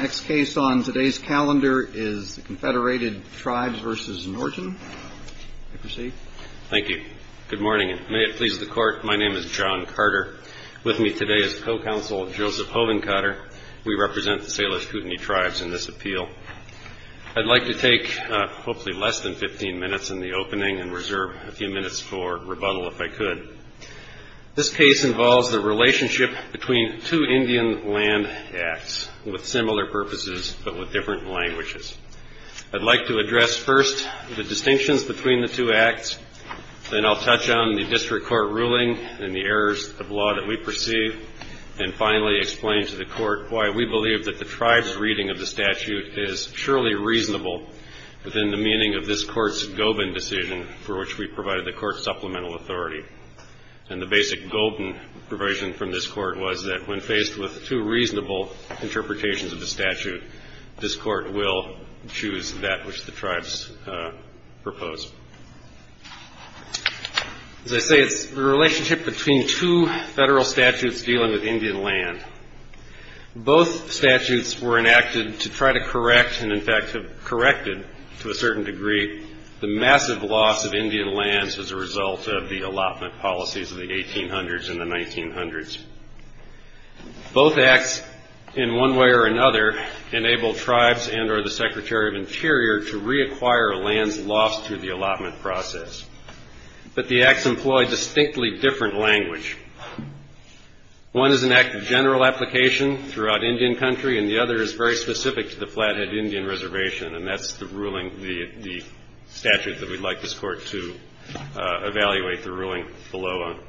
Next case on today's calendar is the Confederated Tribes v. Norton. Thank you. Good morning, and may it please the Court, my name is John Carter. With me today is co-counsel Joseph Hovenkater. We represent the Salish Kootenai Tribes in this appeal. I'd like to take hopefully less than 15 minutes in the opening and reserve a few minutes for rebuttal if I could. This case involves the relationship between two Indian land acts with similar purposes but with different languages. I'd like to address first the distinctions between the two acts, then I'll touch on the district court ruling and the errors of law that we perceive, and finally explain to the Court why we believe that the Tribes' reading of the statute is purely reasonable within the meaning of this Court's and the basic golden provision from this Court was that when faced with two reasonable interpretations of the statute, this Court will choose that which the Tribes propose. As I say, it's the relationship between two federal statutes dealing with Indian land. Both statutes were enacted to try to correct, and in fact have corrected to a certain degree, the massive loss of Indian lands as a result of the allotment policies of the 1800s and the 1900s. Both acts, in one way or another, enable Tribes and or the Secretary of Interior to reacquire lands lost through the allotment process. But the acts employ a distinctly different language. One is an act of general application throughout Indian country, and the other is very specific to the Flathead Indian Reservation, and that's the ruling, the statute that we'd like this Court to evaluate the ruling below on.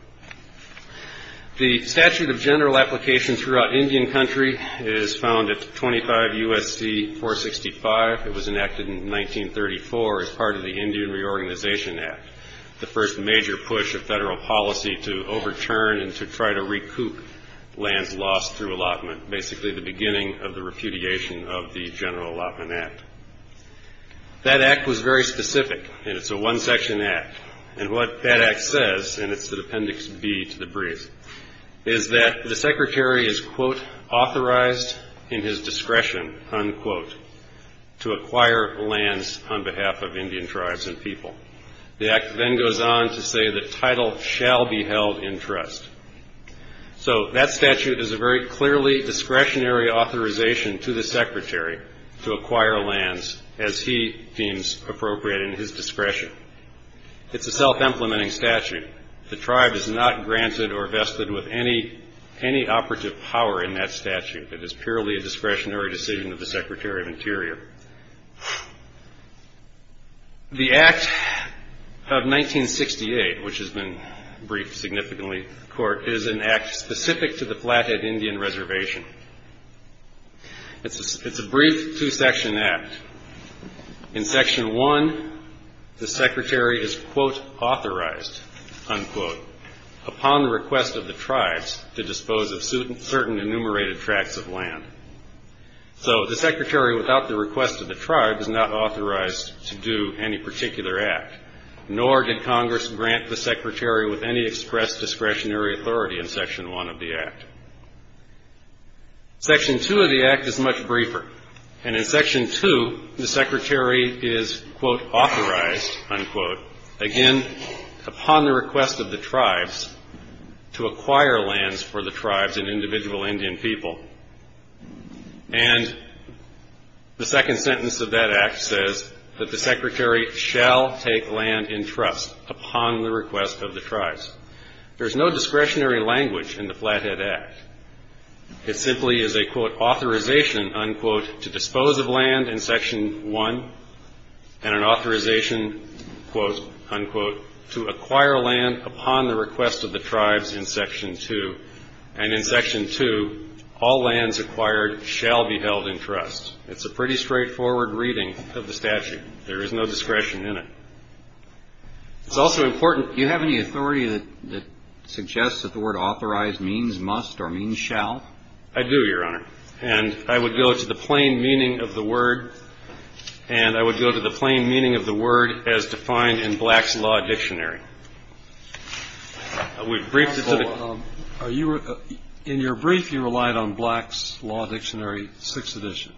The statute of general application throughout Indian country is found at 25 U.S.C. 465. It was enacted in 1934 as part of the Indian Reorganization Act, the first major push of federal policy to overturn and to try to recoup lands lost through allotment, basically the beginning of the repudiation of the General Allotment Act. That act was very specific, and it's a one-section act, and what that act says, and it's at Appendix B to the brief, is that the Secretary is, quote, authorized in his discretion, unquote, to acquire lands on behalf of Indian tribes and people. The act then goes on to say the title shall be held in trust. So that statute is a very clearly discretionary authorization to the Secretary to acquire lands as he deems appropriate in his discretion. It's a self-implementing statute. The tribe is not granted or vested with any operative power in that statute. It is purely a discretionary decision of the Secretary of Interior. The Act of 1968, which has been briefed significantly in court, is an act specific to the Flathead Indian Reservation. It's a brief two-section act. In Section 1, the Secretary is, quote, authorized, unquote, upon request of the tribes to dispose of certain enumerated tracts of land. So the Secretary, without the request of the tribe, is not authorized to do any particular act, nor did Congress grant the Secretary with any express discretionary authority in Section 1 of the Act. Section 2 of the Act is much briefer, and in Section 2, the Secretary is, quote, authorized, unquote, again, upon the request of the tribes to acquire lands for the tribes and individual Indian people. And the second sentence of that act says that the Secretary shall take land in trust upon the request of the tribes. There's no discretionary language in the Flathead Act. It simply is a, quote, authorization, unquote, to dispose of land in Section 1, and an authorization, quote, unquote, to acquire land upon the request of the tribes in Section 2. And in Section 2, all lands acquired shall be held in trust. It's a pretty straightforward reading of the statute. There is no discretion in it. It's also important. Do you have any authority that suggests that the word authorized means must or means shall? I do, Your Honor, and I would go to the plain meaning of the word as defined in Black's Law Dictionary. In your brief, you relied on Black's Law Dictionary, 6th edition.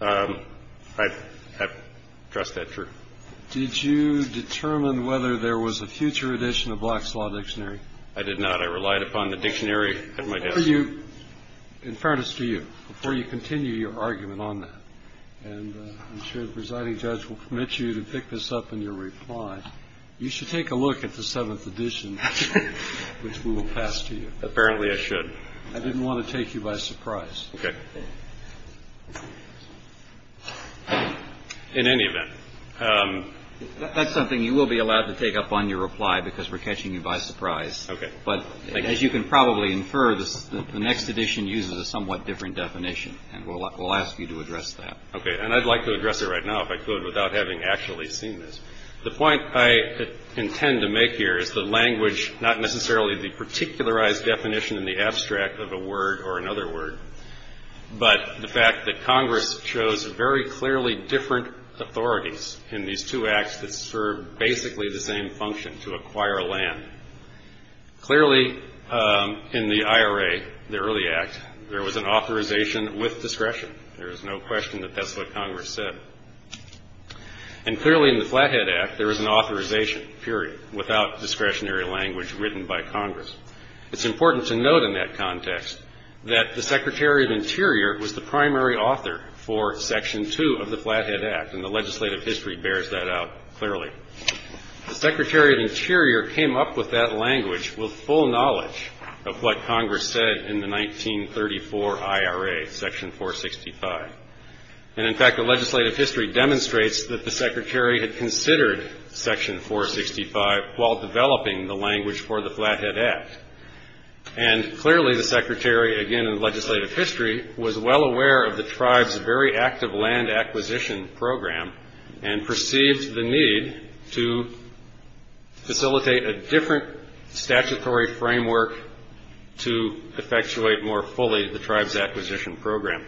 I trust that's true. Did you determine whether there was a future edition of Black's Law Dictionary? I did not. I relied upon the dictionary at my desk. In fairness to you, before you continue your argument on that, and I'm sure the presiding judge will permit you to pick this up in your reply, you should take a look at the 7th edition, which we will pass to you. Apparently, I should. I didn't want to take you by surprise. Okay. In any event. That's something you will be allowed to take up on your reply because we're catching you by surprise. Okay. But as you can probably infer, the next edition uses a somewhat different definition, and we'll ask you to address that. Okay. And I'd like to address it right now, if I could, without having actually seen this. The point I intend to make here is the language, not necessarily the particularized definition in the abstract of a word or another word, but the fact that Congress chose very clearly different authorities in these two acts that serve basically the same function, to acquire land. Clearly, in the IRA, the early act, there was an authorization with discretion. There is no question that that's what Congress said. And clearly, in the Flathead Act, there was an authorization, period, without discretionary language written by Congress. It's important to note in that context that the Secretary of Interior was the primary author for Section 2 of the Flathead Act, and the legislative history bears that out clearly. The Secretary of Interior came up with that language with full knowledge of what Congress said in the 1934 IRA, Section 465. And in fact, the legislative history demonstrates that the Secretary had considered Section 465 while developing the language for the Flathead Act. And clearly, the Secretary, again, in the legislative history, was well aware of the tribe's very active land acquisition program and perceived the need to facilitate a different statutory framework to effectuate more fully the tribe's acquisition program.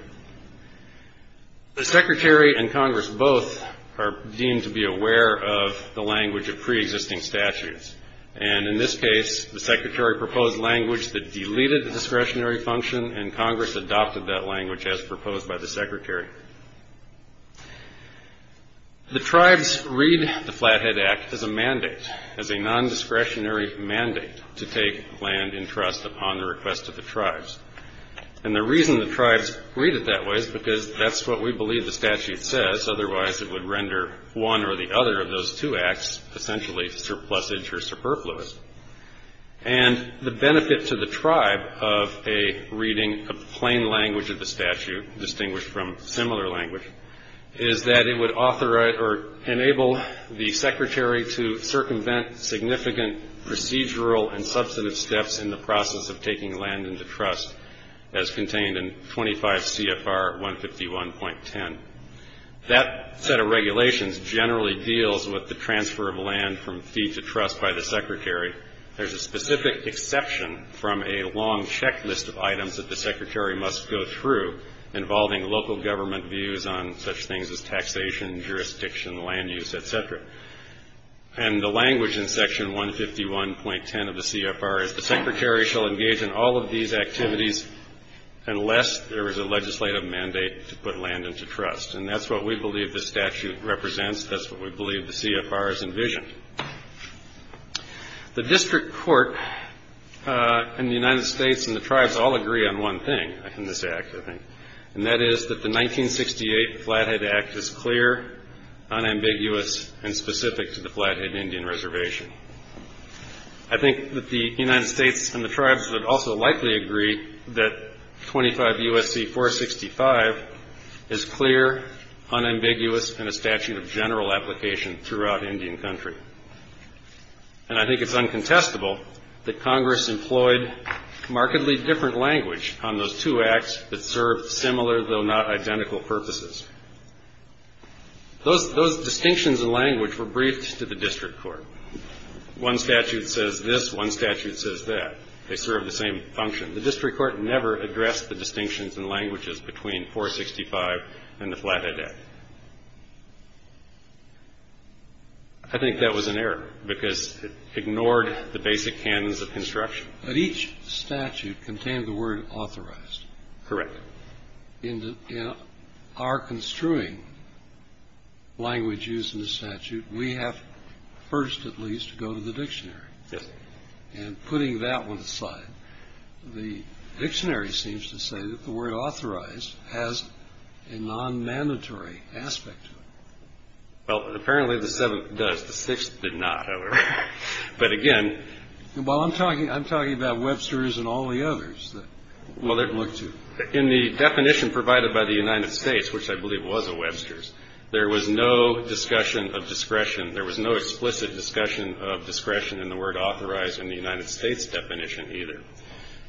The Secretary and Congress both are deemed to be aware of the language of preexisting statutes. And in this case, the Secretary proposed language that deleted the discretionary function, and Congress adopted that language as proposed by the Secretary. The tribes read the Flathead Act as a mandate, as a non-discretionary mandate to take land in trust upon the request of the tribes. And the reason the tribes read it that way is because that's what we believe the statute says. Otherwise, it would render one or the other of those two acts essentially surplusage or superfluous. And the benefit to the tribe of a reading of plain language of the statute, distinguished from similar language, is that it would authorize or enable the Secretary to circumvent significant procedural and substantive steps in the process of taking land into trust, as contained in 25 CFR 151.10. That set of regulations generally deals with the transfer of land from fee to trust by the Secretary. There's a specific exception from a long checklist of items that the Secretary must go through, involving local government views on such things as taxation, jurisdiction, land use, et cetera. And the language in Section 151.10 of the CFR is the Secretary shall engage in all of these activities unless there is a legislative mandate to put land into trust. And that's what we believe the statute represents. That's what we believe the CFR has envisioned. The district court in the United States and the tribes all agree on one thing in this act, I think, and that is that the 1968 Flathead Act is clear, unambiguous, and specific to the Flathead Indian Reservation. I think that the United States and the tribes would also likely agree that 25 U.S.C. 465 is clear, unambiguous, and a statute of general application throughout Indian Country. And I think it's uncontestable that Congress employed markedly different language on those two acts that served similar, though not identical, purposes. Those distinctions in language were briefed to the district court. One statute says this. One statute says that. They serve the same function. The district court never addressed the distinctions in languages between 465 and the Flathead Act. I think that was an error because it ignored the basic canons of construction. But each statute contained the word authorized. Correct. In our construing language used in the statute, we have first, at least, to go to the dictionary. Yes. And putting that one aside, the dictionary seems to say that the word authorized has a non-mandatory aspect to it. Well, apparently the seventh does. The sixth did not, however. But, again. Well, I'm talking about Webster's and all the others that look to. In the definition provided by the United States, which I believe was a Webster's, there was no discussion of discretion. There was no explicit discussion of discretion in the word authorized in the United States definition either.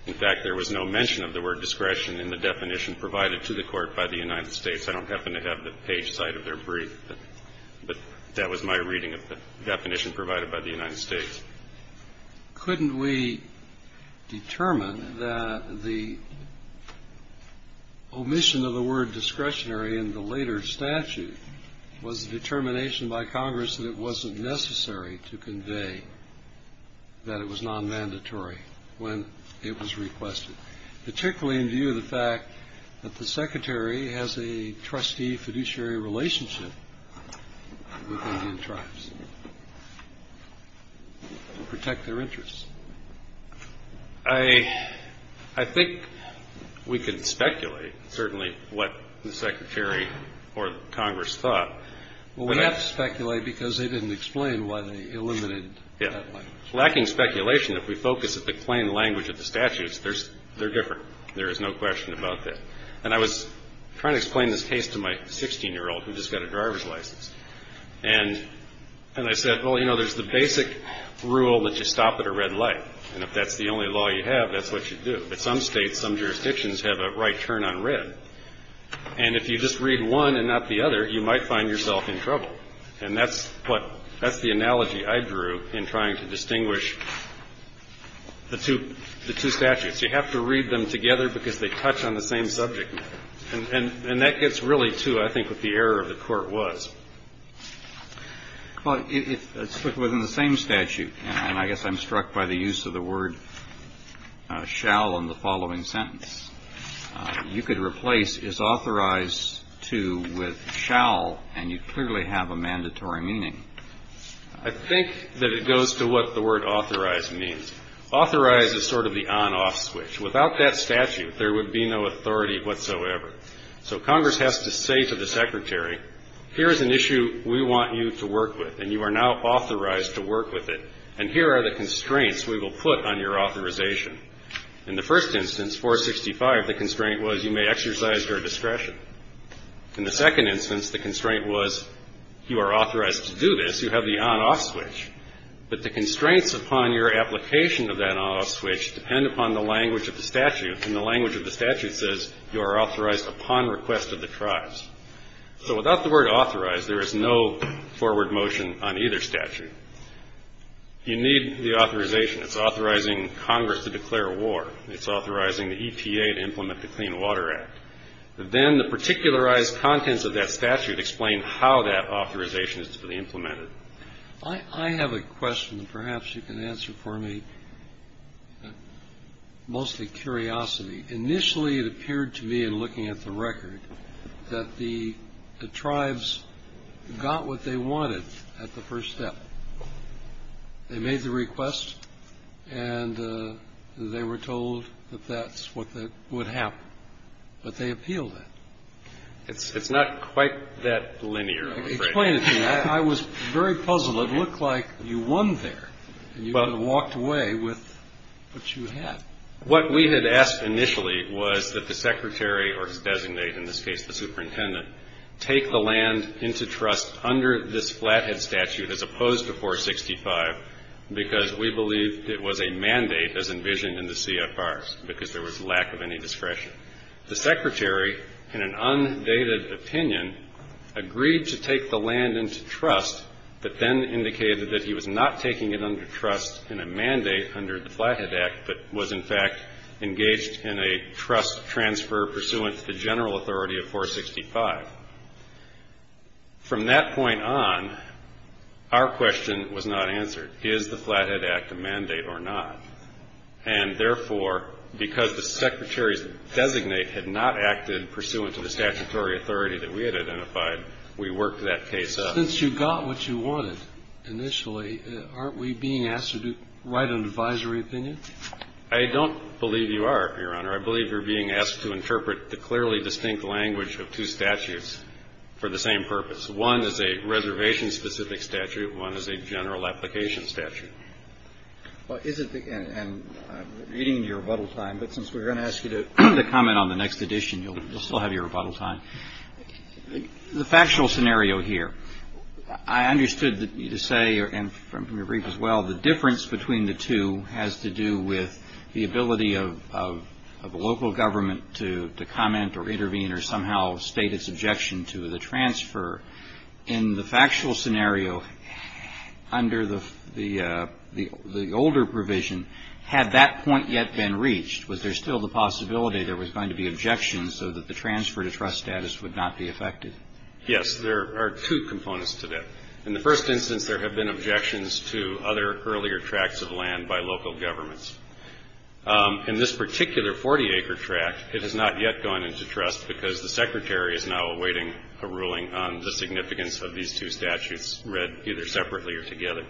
In fact, there was no mention of the word discretion in the definition provided to the court by the United States. I don't happen to have the page side of their brief, but that was my reading of the definition provided by the United States. Couldn't we determine that the omission of the word discretionary in the later statute was a determination by Congress that it wasn't necessary to convey that it was non-mandatory when it was requested, particularly in view of the fact that the Secretary has a trustee-fiduciary relationship with Indian tribes to protect their interests? I think we could speculate, certainly, what the Secretary or Congress thought. Well, we have to speculate because they didn't explain why they eliminated that language. Well, there's a lot of reasons. There's no question about that. And I was trying to explain this case to my 16-year-old who just got a driver's license. And I said, well, you know, there's the basic rule that you stop at a red light. And if that's the only law you have, that's what you do. But some states, some jurisdictions have a right turn on red. And if you just read one and not the other, you might find yourself in trouble. And that's what the analogy I drew in trying to distinguish the two statutes. You have to read them together because they touch on the same subject. And that gets really to, I think, what the error of the Court was. Well, it's within the same statute. And I guess I'm struck by the use of the word shall in the following sentence. You could replace is authorized to with shall. And you clearly have a mandatory meaning. I think that it goes to what the word authorized means. Authorized is sort of the on-off switch. Without that statute, there would be no authority whatsoever. So Congress has to say to the Secretary, here is an issue we want you to work with. And you are now authorized to work with it. And here are the constraints we will put on your authorization. In the first instance, 465, the constraint was you may exercise your discretion. In the second instance, the constraint was you are authorized to do this. You have the on-off switch. But the constraints upon your application of that on-off switch depend upon the language of the statute. And the language of the statute says you are authorized upon request of the tribes. So without the word authorized, there is no forward motion on either statute. You need the authorization. It's authorizing Congress to declare war. It's authorizing the EPA to implement the Clean Water Act. Then the particularized contents of that statute explain how that authorization is to be implemented. I have a question that perhaps you can answer for me, mostly curiosity. Initially, it appeared to me in looking at the record that the tribes got what they wanted at the first step. They made the request, and they were told that that's what would happen. But they appealed it. It's not quite that linear, I'm afraid. Explain it to me. I was very puzzled. It looked like you won there, and you walked away with what you had. What we had asked initially was that the secretary or his designate, in this case the superintendent, take the land into trust under this Flathead statute as opposed to 465, because we believed it was a mandate as envisioned in the CFRs, because there was lack of any discretion. The secretary, in an undated opinion, agreed to take the land into trust, but then indicated that he was not taking it under trust in a mandate under the Flathead Act, but was, in fact, engaged in a trust transfer pursuant to the general authority of 465. From that point on, our question was not answered. Is the Flathead Act a mandate or not? And therefore, because the secretary's designate had not acted pursuant to the statutory authority that we had identified, we worked that case up. But since you got what you wanted initially, aren't we being asked to write an advisory opinion? I don't believe you are, Your Honor. I believe you're being asked to interpret the clearly distinct language of two statutes for the same purpose. One is a reservation-specific statute. One is a general application statute. Well, is it the end? I'm reading your rebuttal time, but since we're going to ask you to comment on the next edition, you'll still have your rebuttal time. The factual scenario here, I understood you to say, and from your brief as well, the difference between the two has to do with the ability of a local government to comment or intervene or somehow state its objection to the transfer. In the factual scenario, under the older provision, had that point yet been reached, was there still the possibility there was going to be objections so that the transfer to trust status would not be affected? Yes, there are two components to that. In the first instance, there have been objections to other earlier tracts of land by local governments. In this particular 40-acre tract, it has not yet gone into trust because the Secretary is now awaiting a ruling on the significance of these two statutes, read either separately or together.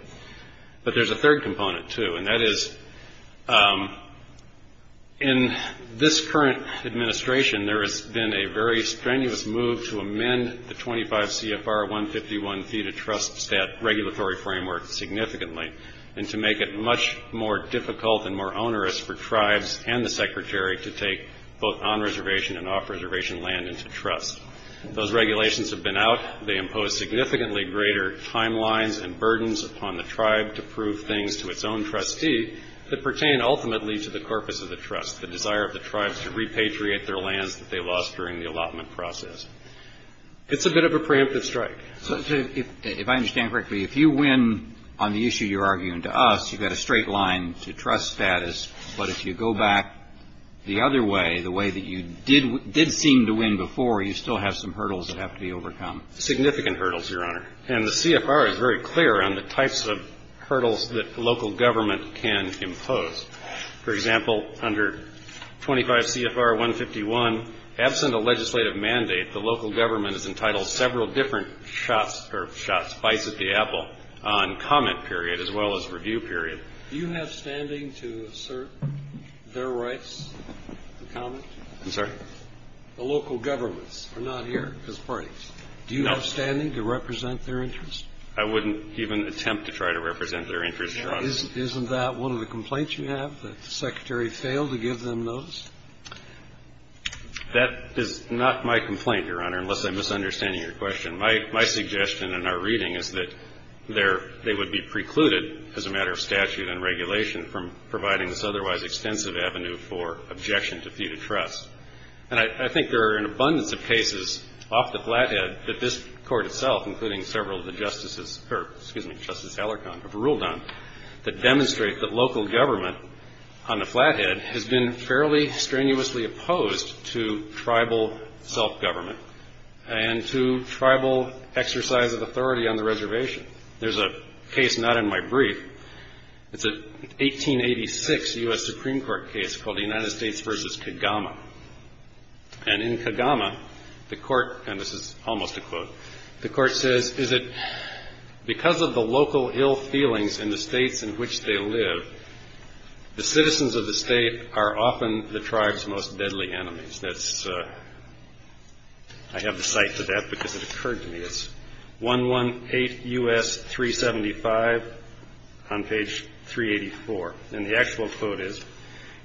But there's a third component, too, and that is in this current administration, there has been a very strenuous move to amend the 25 CFR 151 Theta Trust Stat Regulatory Framework significantly and to make it much more difficult and more onerous for tribes and the Secretary to take both on-reservation and off-reservation land into trust. Those regulations have been out. They impose significantly greater timelines and burdens upon the tribe to prove things to its own trustee that pertain ultimately to the corpus of the trust, the desire of the tribes to repatriate their lands that they lost during the allotment process. It's a bit of a preemptive strike. If I understand correctly, if you win on the issue you're arguing to us, you've got a straight line to trust status, but if you go back the other way, the way that you did seem to win before, you still have some hurdles that have to be overcome. Significant hurdles, Your Honor. And the CFR is very clear on the types of hurdles that local government can impose. For example, under 25 CFR 151, absent a legislative mandate, the local government is entitled to several different shots or shots, bites at the apple on comment period as well as review period. Do you have standing to assert their rights to comment? I'm sorry? The local governments are not here as parties. Do you have standing to represent their interests? I wouldn't even attempt to try to represent their interests. Isn't that one of the complaints you have, that the Secretary failed to give them those? That is not my complaint, Your Honor, unless I'm misunderstanding your question. My suggestion in our reading is that they would be precluded as a matter of statute and regulation from providing this otherwise extensive avenue for objection to feud of trust. And I think there are an abundance of cases off the flathead that this Court itself, including several of the justices, or excuse me, Justice Alarcon, have ruled on, that demonstrate that local government on the flathead has been fairly strenuously opposed to tribal self-government and to tribal exercise of authority on the reservation. There's a case not in my brief. It's an 1886 U.S. Supreme Court case called the United States v. Kagama. And in Kagama, the Court, and this is almost a quote, the Court says, is it because of the local ill feelings in the states in which they live, the citizens of the state are often the tribe's most deadly enemies. I have the cite for that because it occurred to me. It's 118 U.S. 375 on page 384. And the actual quote is,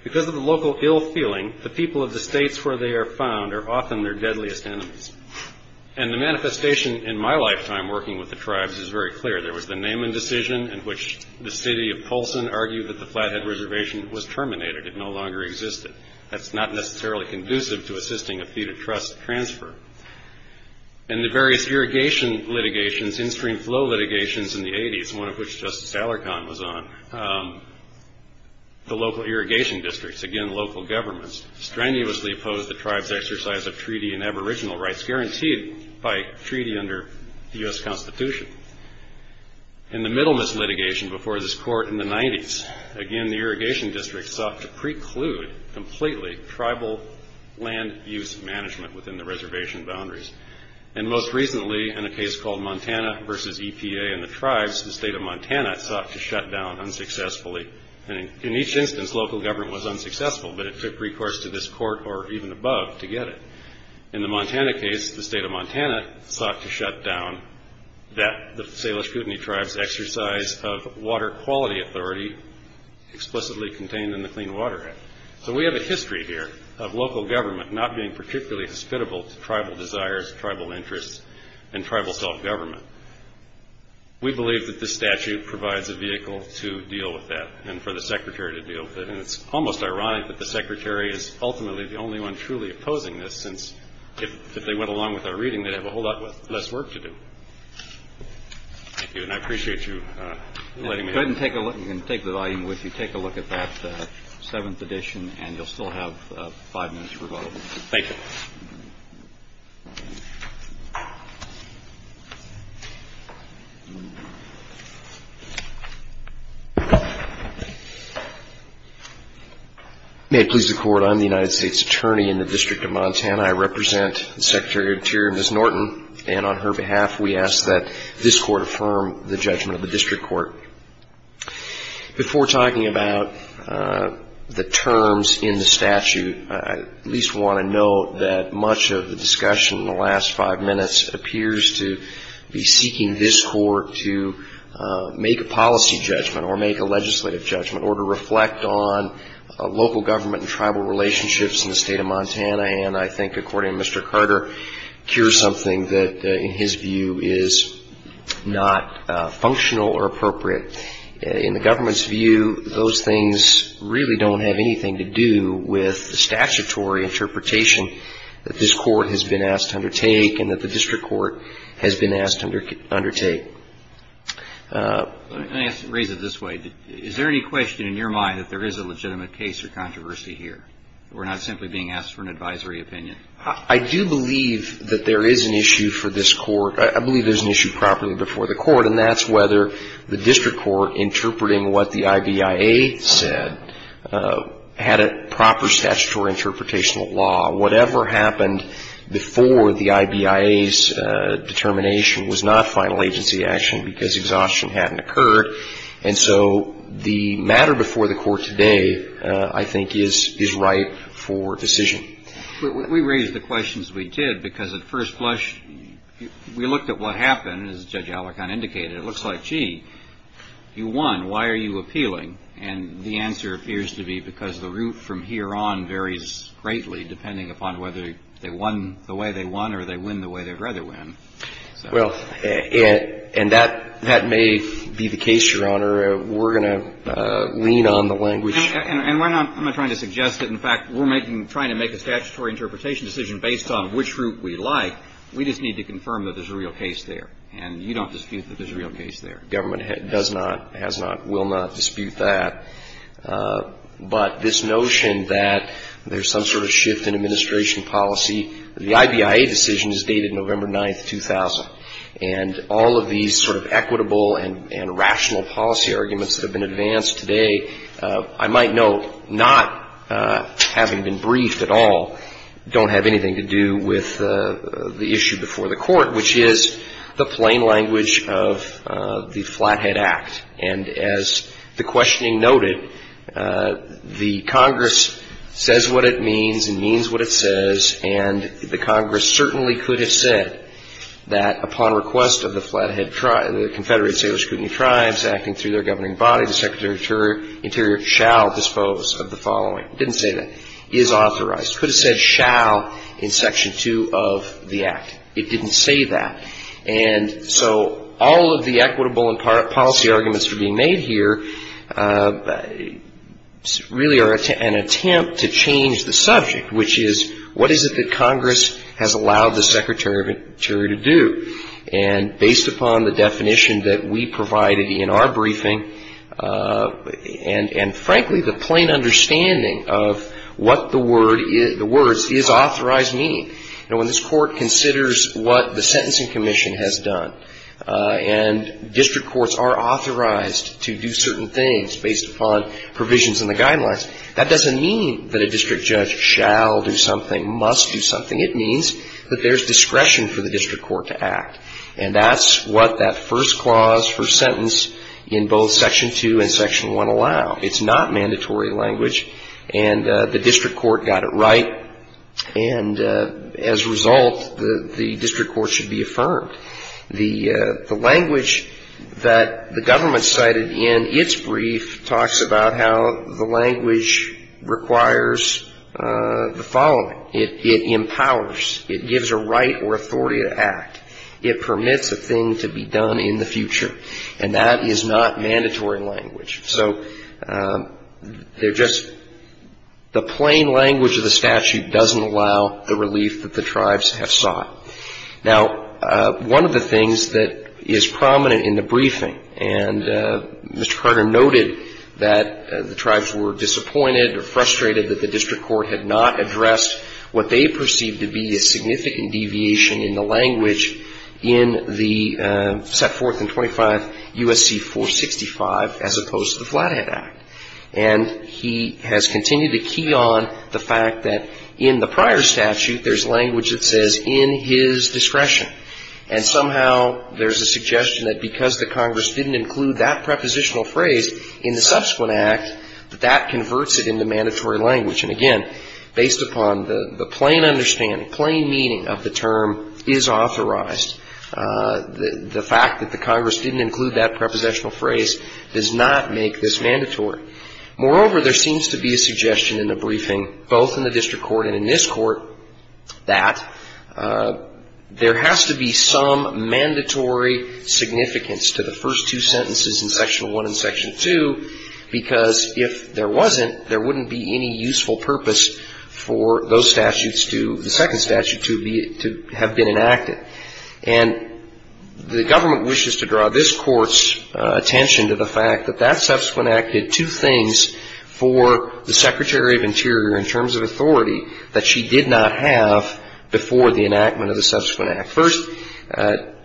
because of the local ill feeling, the people of the states where they are found are often their deadliest enemies. And the manifestation in my lifetime working with the tribes is very clear. There was the Naaman decision in which the city of Polson argued that the flathead reservation was terminated. It no longer existed. That's not necessarily conducive to assisting a fee-to-trust transfer. And the various irrigation litigations, in-stream flow litigations in the 80s, one of which Justice Alarcon was on, the local irrigation districts, again, local governments, strenuously opposed the tribe's exercise of treaty and aboriginal rights, guaranteed by treaty under the U.S. Constitution. In the Middlemas litigation before this court in the 90s, again, the irrigation district sought to preclude completely tribal land use management within the reservation boundaries. And most recently, in a case called Montana versus EPA and the tribes, the state of Montana sought to shut down unsuccessfully. And in each instance, local government was unsuccessful, but it took recourse to this court or even above to get it. In the Montana case, the state of Montana sought to shut down the Salish Kootenai tribe's exercise of water quality authority explicitly contained in the Clean Water Act. So we have a history here of local government not being particularly hospitable to tribal desires, tribal interests, and tribal self-government. We believe that this statute provides a vehicle to deal with that and for the Secretary to deal with it. And it's almost ironic that the Secretary is ultimately the only one truly opposing this since if they went along with our reading, they'd have a whole lot less work to do. Thank you, and I appreciate you letting me know. Go ahead and take the volume with you. Take a look at that 7th edition, and you'll still have five minutes for vote. Thank you. May it please the Court, I'm the United States Attorney in the District of Montana. I represent the Secretary of the Interior, Ms. Norton, and on her behalf we ask that this Court affirm the judgment of the District Court. Before talking about the terms in the statute, I at least want to note that much of the discussion in the last five minutes appears to be seeking this Court to make a policy judgment or make a legislative judgment or to reflect on local government and tribal relationships in the State of Montana. And I think, according to Mr. Carter, here's something that in his view is not functional or appropriate. In the government's view, those things really don't have anything to do with the statutory interpretation that this Court has been asked to undertake and that the District Court has been asked to undertake. Let me raise it this way. Is there any question in your mind that there is a legitimate case or controversy here? We're not simply being asked for an advisory opinion. I do believe that there is an issue for this Court. I believe there's an issue properly before the Court, and that's whether the District Court, interpreting what the IBIA said, had a proper statutory interpretational law. Whatever happened before the IBIA's determination was not final agency action because exhaustion hadn't occurred. And so the matter before the Court today, I think, is ripe for decision. We raised the questions we did because at first blush, we looked at what happened, as Judge Alicorn indicated. It looks like, gee, you won. Why are you appealing? And the answer appears to be because the route from here on varies greatly depending upon whether they won the way they won or they win the way they'd rather win. Well, and that may be the case, Your Honor. We're going to lean on the language. And we're not trying to suggest that, in fact, we're trying to make a statutory interpretation decision based on which route we like. We just need to confirm that there's a real case there. And you don't dispute that there's a real case there. Government does not, has not, will not dispute that. But this notion that there's some sort of shift in administration policy, the IBIA decision is dated November 9, 2000, and all of these sort of equitable and rational policy arguments that have been advanced today, I might note, not having been briefed at all, don't have anything to do with the issue before the Court, which is the plain language of the Flathead Act. And as the questioning noted, the Congress says what it means and means what it says, and the Congress certainly could have said that upon request of the Flathead Tribe, the Confederated Salish Kootenai Tribes acting through their governing body, the Secretary of the Interior shall dispose of the following. It didn't say that. It is authorized. It could have said shall in Section 2 of the Act. It didn't say that. And so all of the equitable and policy arguments that are being made here really are an attempt to change the subject, which is what is it that Congress has allowed the Secretary of the Interior to do? And based upon the definition that we provided in our briefing, and frankly, the plain understanding of what the words is authorized mean. Now, when this Court considers what the Sentencing Commission has done, and district courts are authorized to do certain things based upon provisions in the guidelines, that doesn't mean that a district judge shall do something, must do something. It means that there's discretion for the district court to act. And that's what that first clause, first sentence in both Section 2 and Section 1 allow. It's not mandatory language, and the district court got it right. And as a result, the district court should be affirmed. The language that the government cited in its brief talks about how the language requires the following. It empowers. It gives a right or authority to act. It permits a thing to be done in the future. And that is not mandatory language. So they're just the plain language of the statute doesn't allow the relief that the tribes have sought. Now, one of the things that is prominent in the briefing, and Mr. Carter noted that the tribes were disappointed or frustrated that the district court had not addressed what they perceived to be a significant deviation in the language in the set forth in 25 U.S.C. 465 as opposed to the Flathead Act. And he has continued to key on the fact that in the prior statute, there's language that says in his discretion. And somehow there's a suggestion that because the Congress didn't include that prepositional phrase in the subsequent act, that that converts it into mandatory language. Again, based upon the plain understanding, plain meaning of the term is authorized. The fact that the Congress didn't include that prepositional phrase does not make this mandatory. Moreover, there seems to be a suggestion in the briefing, both in the district court and in this court, that there has to be some mandatory significance to the first two sentences in Section 1 and Section 2, because if there wasn't, there wouldn't be any useful purpose for those statutes to the second statute to have been enacted. And the government wishes to draw this Court's attention to the fact that that subsequent act did two things for the Secretary of Interior in terms of authority that she did not have before the enactment of the subsequent act. First,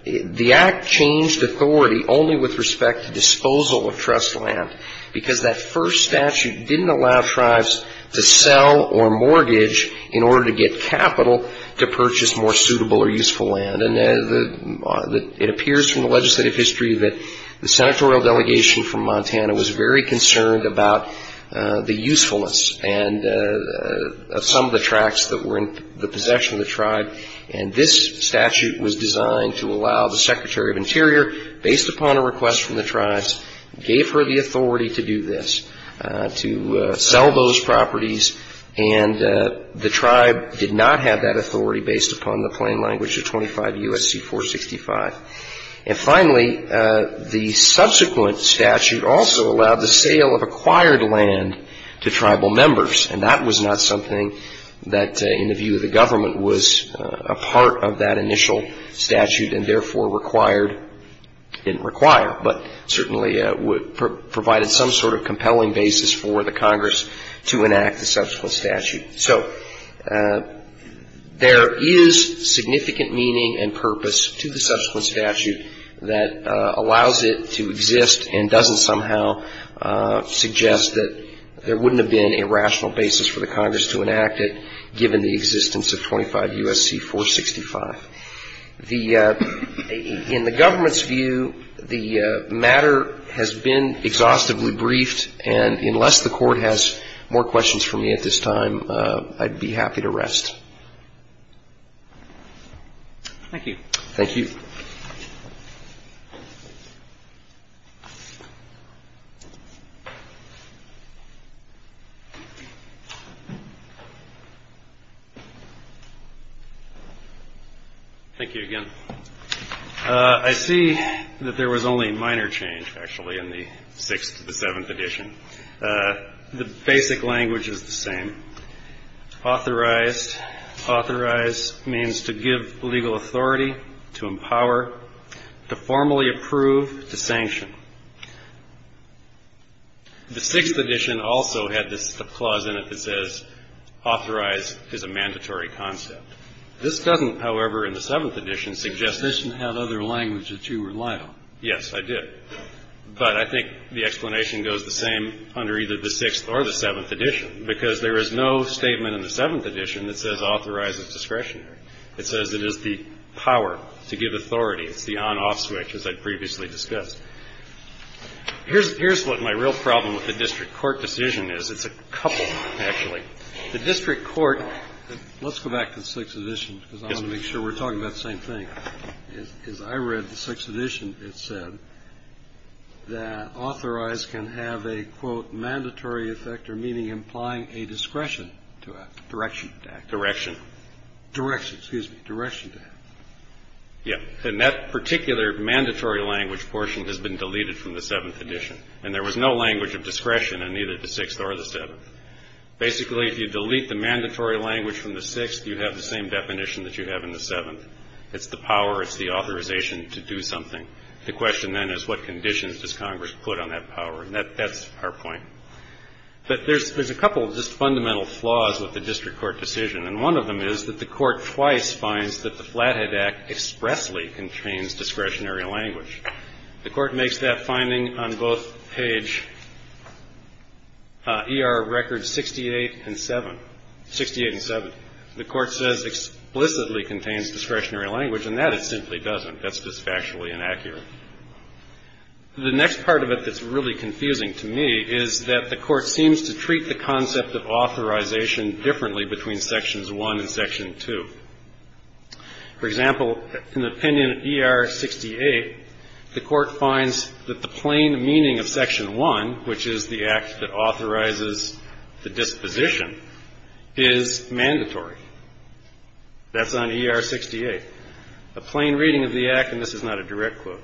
the act changed authority only with respect to disposal of trust land, because that first statute didn't allow tribes to sell or mortgage in order to get capital to purchase more suitable or useful land. And it appears from the legislative history that the senatorial delegation from Montana was very concerned about the to allow the Secretary of Interior, based upon a request from the tribes, gave her the authority to do this, to sell those properties, and the tribe did not have that authority based upon the plain language of 25 U.S.C. 465. And finally, the subsequent statute also allowed the sale of acquired land to tribal members, and that was not something that, in the view of the government, was a part of that initial statute, and therefore required or didn't require, but certainly provided some sort of compelling basis for the Congress to enact the subsequent statute. So there is significant meaning and purpose to the subsequent statute that allows it to exist and doesn't somehow suggest that there wouldn't have been a rational basis for the Congress to enact it, given the existence of 25 U.S.C. 465. In the government's view, the matter has been exhaustively briefed, and unless the Court has more questions for me at this time, I'd be happy to rest. Thank you. Thank you. Thank you again. I see that there was only a minor change, actually, in the 6th to the 7th edition. The basic language is the same. Authorized. Authorize means to give legal authority, to empower, to formally approve, to sanction. The 6th edition also had this clause in it that says, authorize is a mandatory concept. This doesn't, however, in the 7th edition, suggest that you have other language that you rely on. Yes, I did. But I think the explanation goes the same under either the 6th or the 7th edition because there is no statement in the 7th edition that says authorize is discretionary. It says it is the power to give authority. It's the on-off switch, as I'd previously discussed. Here's what my real problem with the district court decision is. It's a couple, actually. The district court, let's go back to the 6th edition because I want to make sure we're talking about the same thing. As I read the 6th edition, it said that authorize can have a, quote, mandatory effect or meaning implying a discretion to act, direction to act. Direction. Direction, excuse me, direction to act. Yeah. And that particular mandatory language portion has been deleted from the 7th edition. And there was no language of discretion in either the 6th or the 7th. Basically, if you delete the mandatory language from the 6th, you have the same definition that you have in the 7th. It's the power, it's the authorization to do something. The question then is what conditions does Congress put on that power? And that's our point. But there's a couple just fundamental flaws with the district court decision. And one of them is that the court twice finds that the Flathead Act expressly contains discretionary language. The court makes that finding on both page ER records 68 and 7. 68 and 7. The court says explicitly contains discretionary language. And that it simply doesn't. That's just factually inaccurate. The next part of it that's really confusing to me is that the court seems to treat the concept of authorization differently between Sections 1 and Section 2. For example, in the opinion of ER 68, the court finds that the plain meaning of Section 1, which is the act that authorizes the disposition, is mandatory. That's on ER 68. A plain reading of the act, and this is not a direct quote,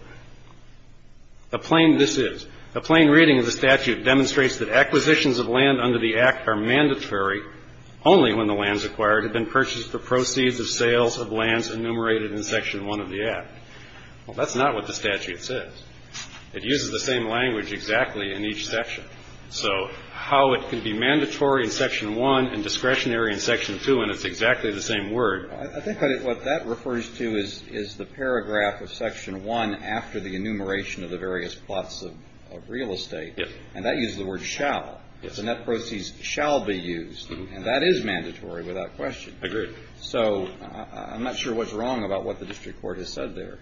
a plain this is, a plain reading of the statute demonstrates that acquisitions of land under the act are mandatory only when the lands acquired have been purchased for proceeds of sales of lands enumerated in Section 1 of the act. Well, that's not what the statute says. It uses the same language exactly in each section. So how it can be mandatory in Section 1 and discretionary in Section 2, and it's exactly the same word. I think what that refers to is the paragraph of Section 1 after the enumeration of the various plots of real estate. Yes. And that uses the word shall. Yes. And that proceeds shall be used. And that is mandatory without question. Agreed. So I'm not sure what's wrong about what the district court has said there.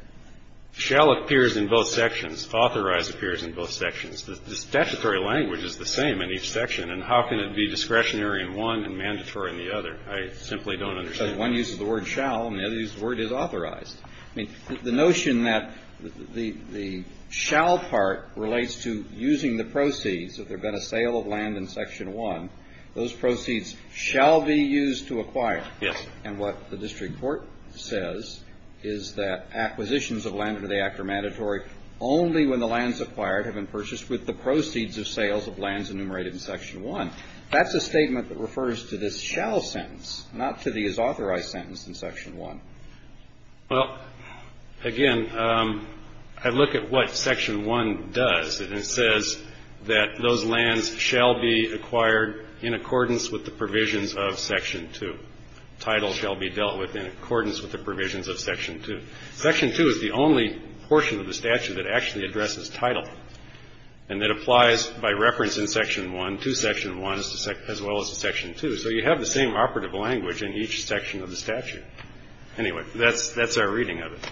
Shall appears in both sections. Authorized appears in both sections. The statutory language is the same in each section. And how can it be discretionary in one and mandatory in the other? I simply don't understand. One uses the word shall, and the other uses the word is authorized. I mean, the notion that the shall part relates to using the proceeds, if there had been a sale of land in Section 1, those proceeds shall be used to acquire. Yes. And what the district court says is that acquisitions of land under the Act are mandatory only when the lands acquired have been purchased with the proceeds of sales of lands enumerated in Section 1. That's a statement that refers to this shall sentence, not to the is authorized sentence in Section 1. Well, again, I look at what Section 1 does, and it says that those lands shall be acquired in accordance with the provisions of Section 2. Title shall be dealt with in accordance with the provisions of Section 2. Section 2 is the only portion of the statute that actually addresses title and that applies by reference in Section 1 to Section 1 as well as to Section 2. So you have the same operative language in each section of the statute. Anyway, that's our reading of it.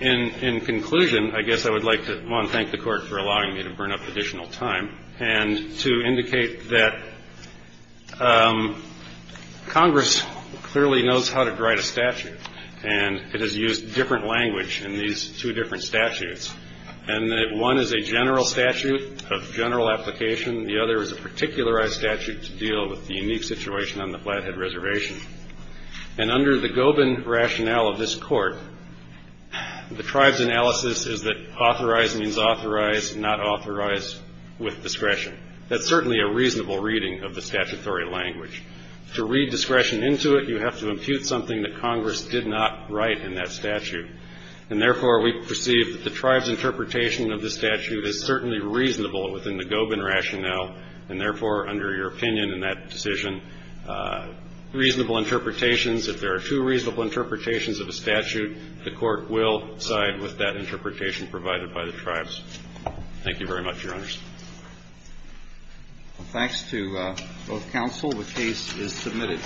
In conclusion, I guess I would like to, one, thank the Court for allowing me to burn up additional time, and two, indicate that Congress clearly knows how to write a statute, and it has used different language in these two different statutes, and that one is a general statute of general application, the other is a particularized statute to deal with the unique situation on the Flathead Reservation. And under the Gobin rationale of this Court, the tribe's analysis is that authorized means authorized, not authorized with discretion. That's certainly a reasonable reading of the statutory language. To read discretion into it, you have to impute something that Congress did not write in that statute. And, therefore, we perceive that the tribe's interpretation of the statute is certainly reasonable within the Gobin rationale, and, therefore, under your opinion in that decision, reasonable interpretations, if there are two reasonable interpretations of a statute, the Court will side with that interpretation provided by the tribes. Thank you very much, Your Honors. Well, thanks to both counsel. The case is submitted.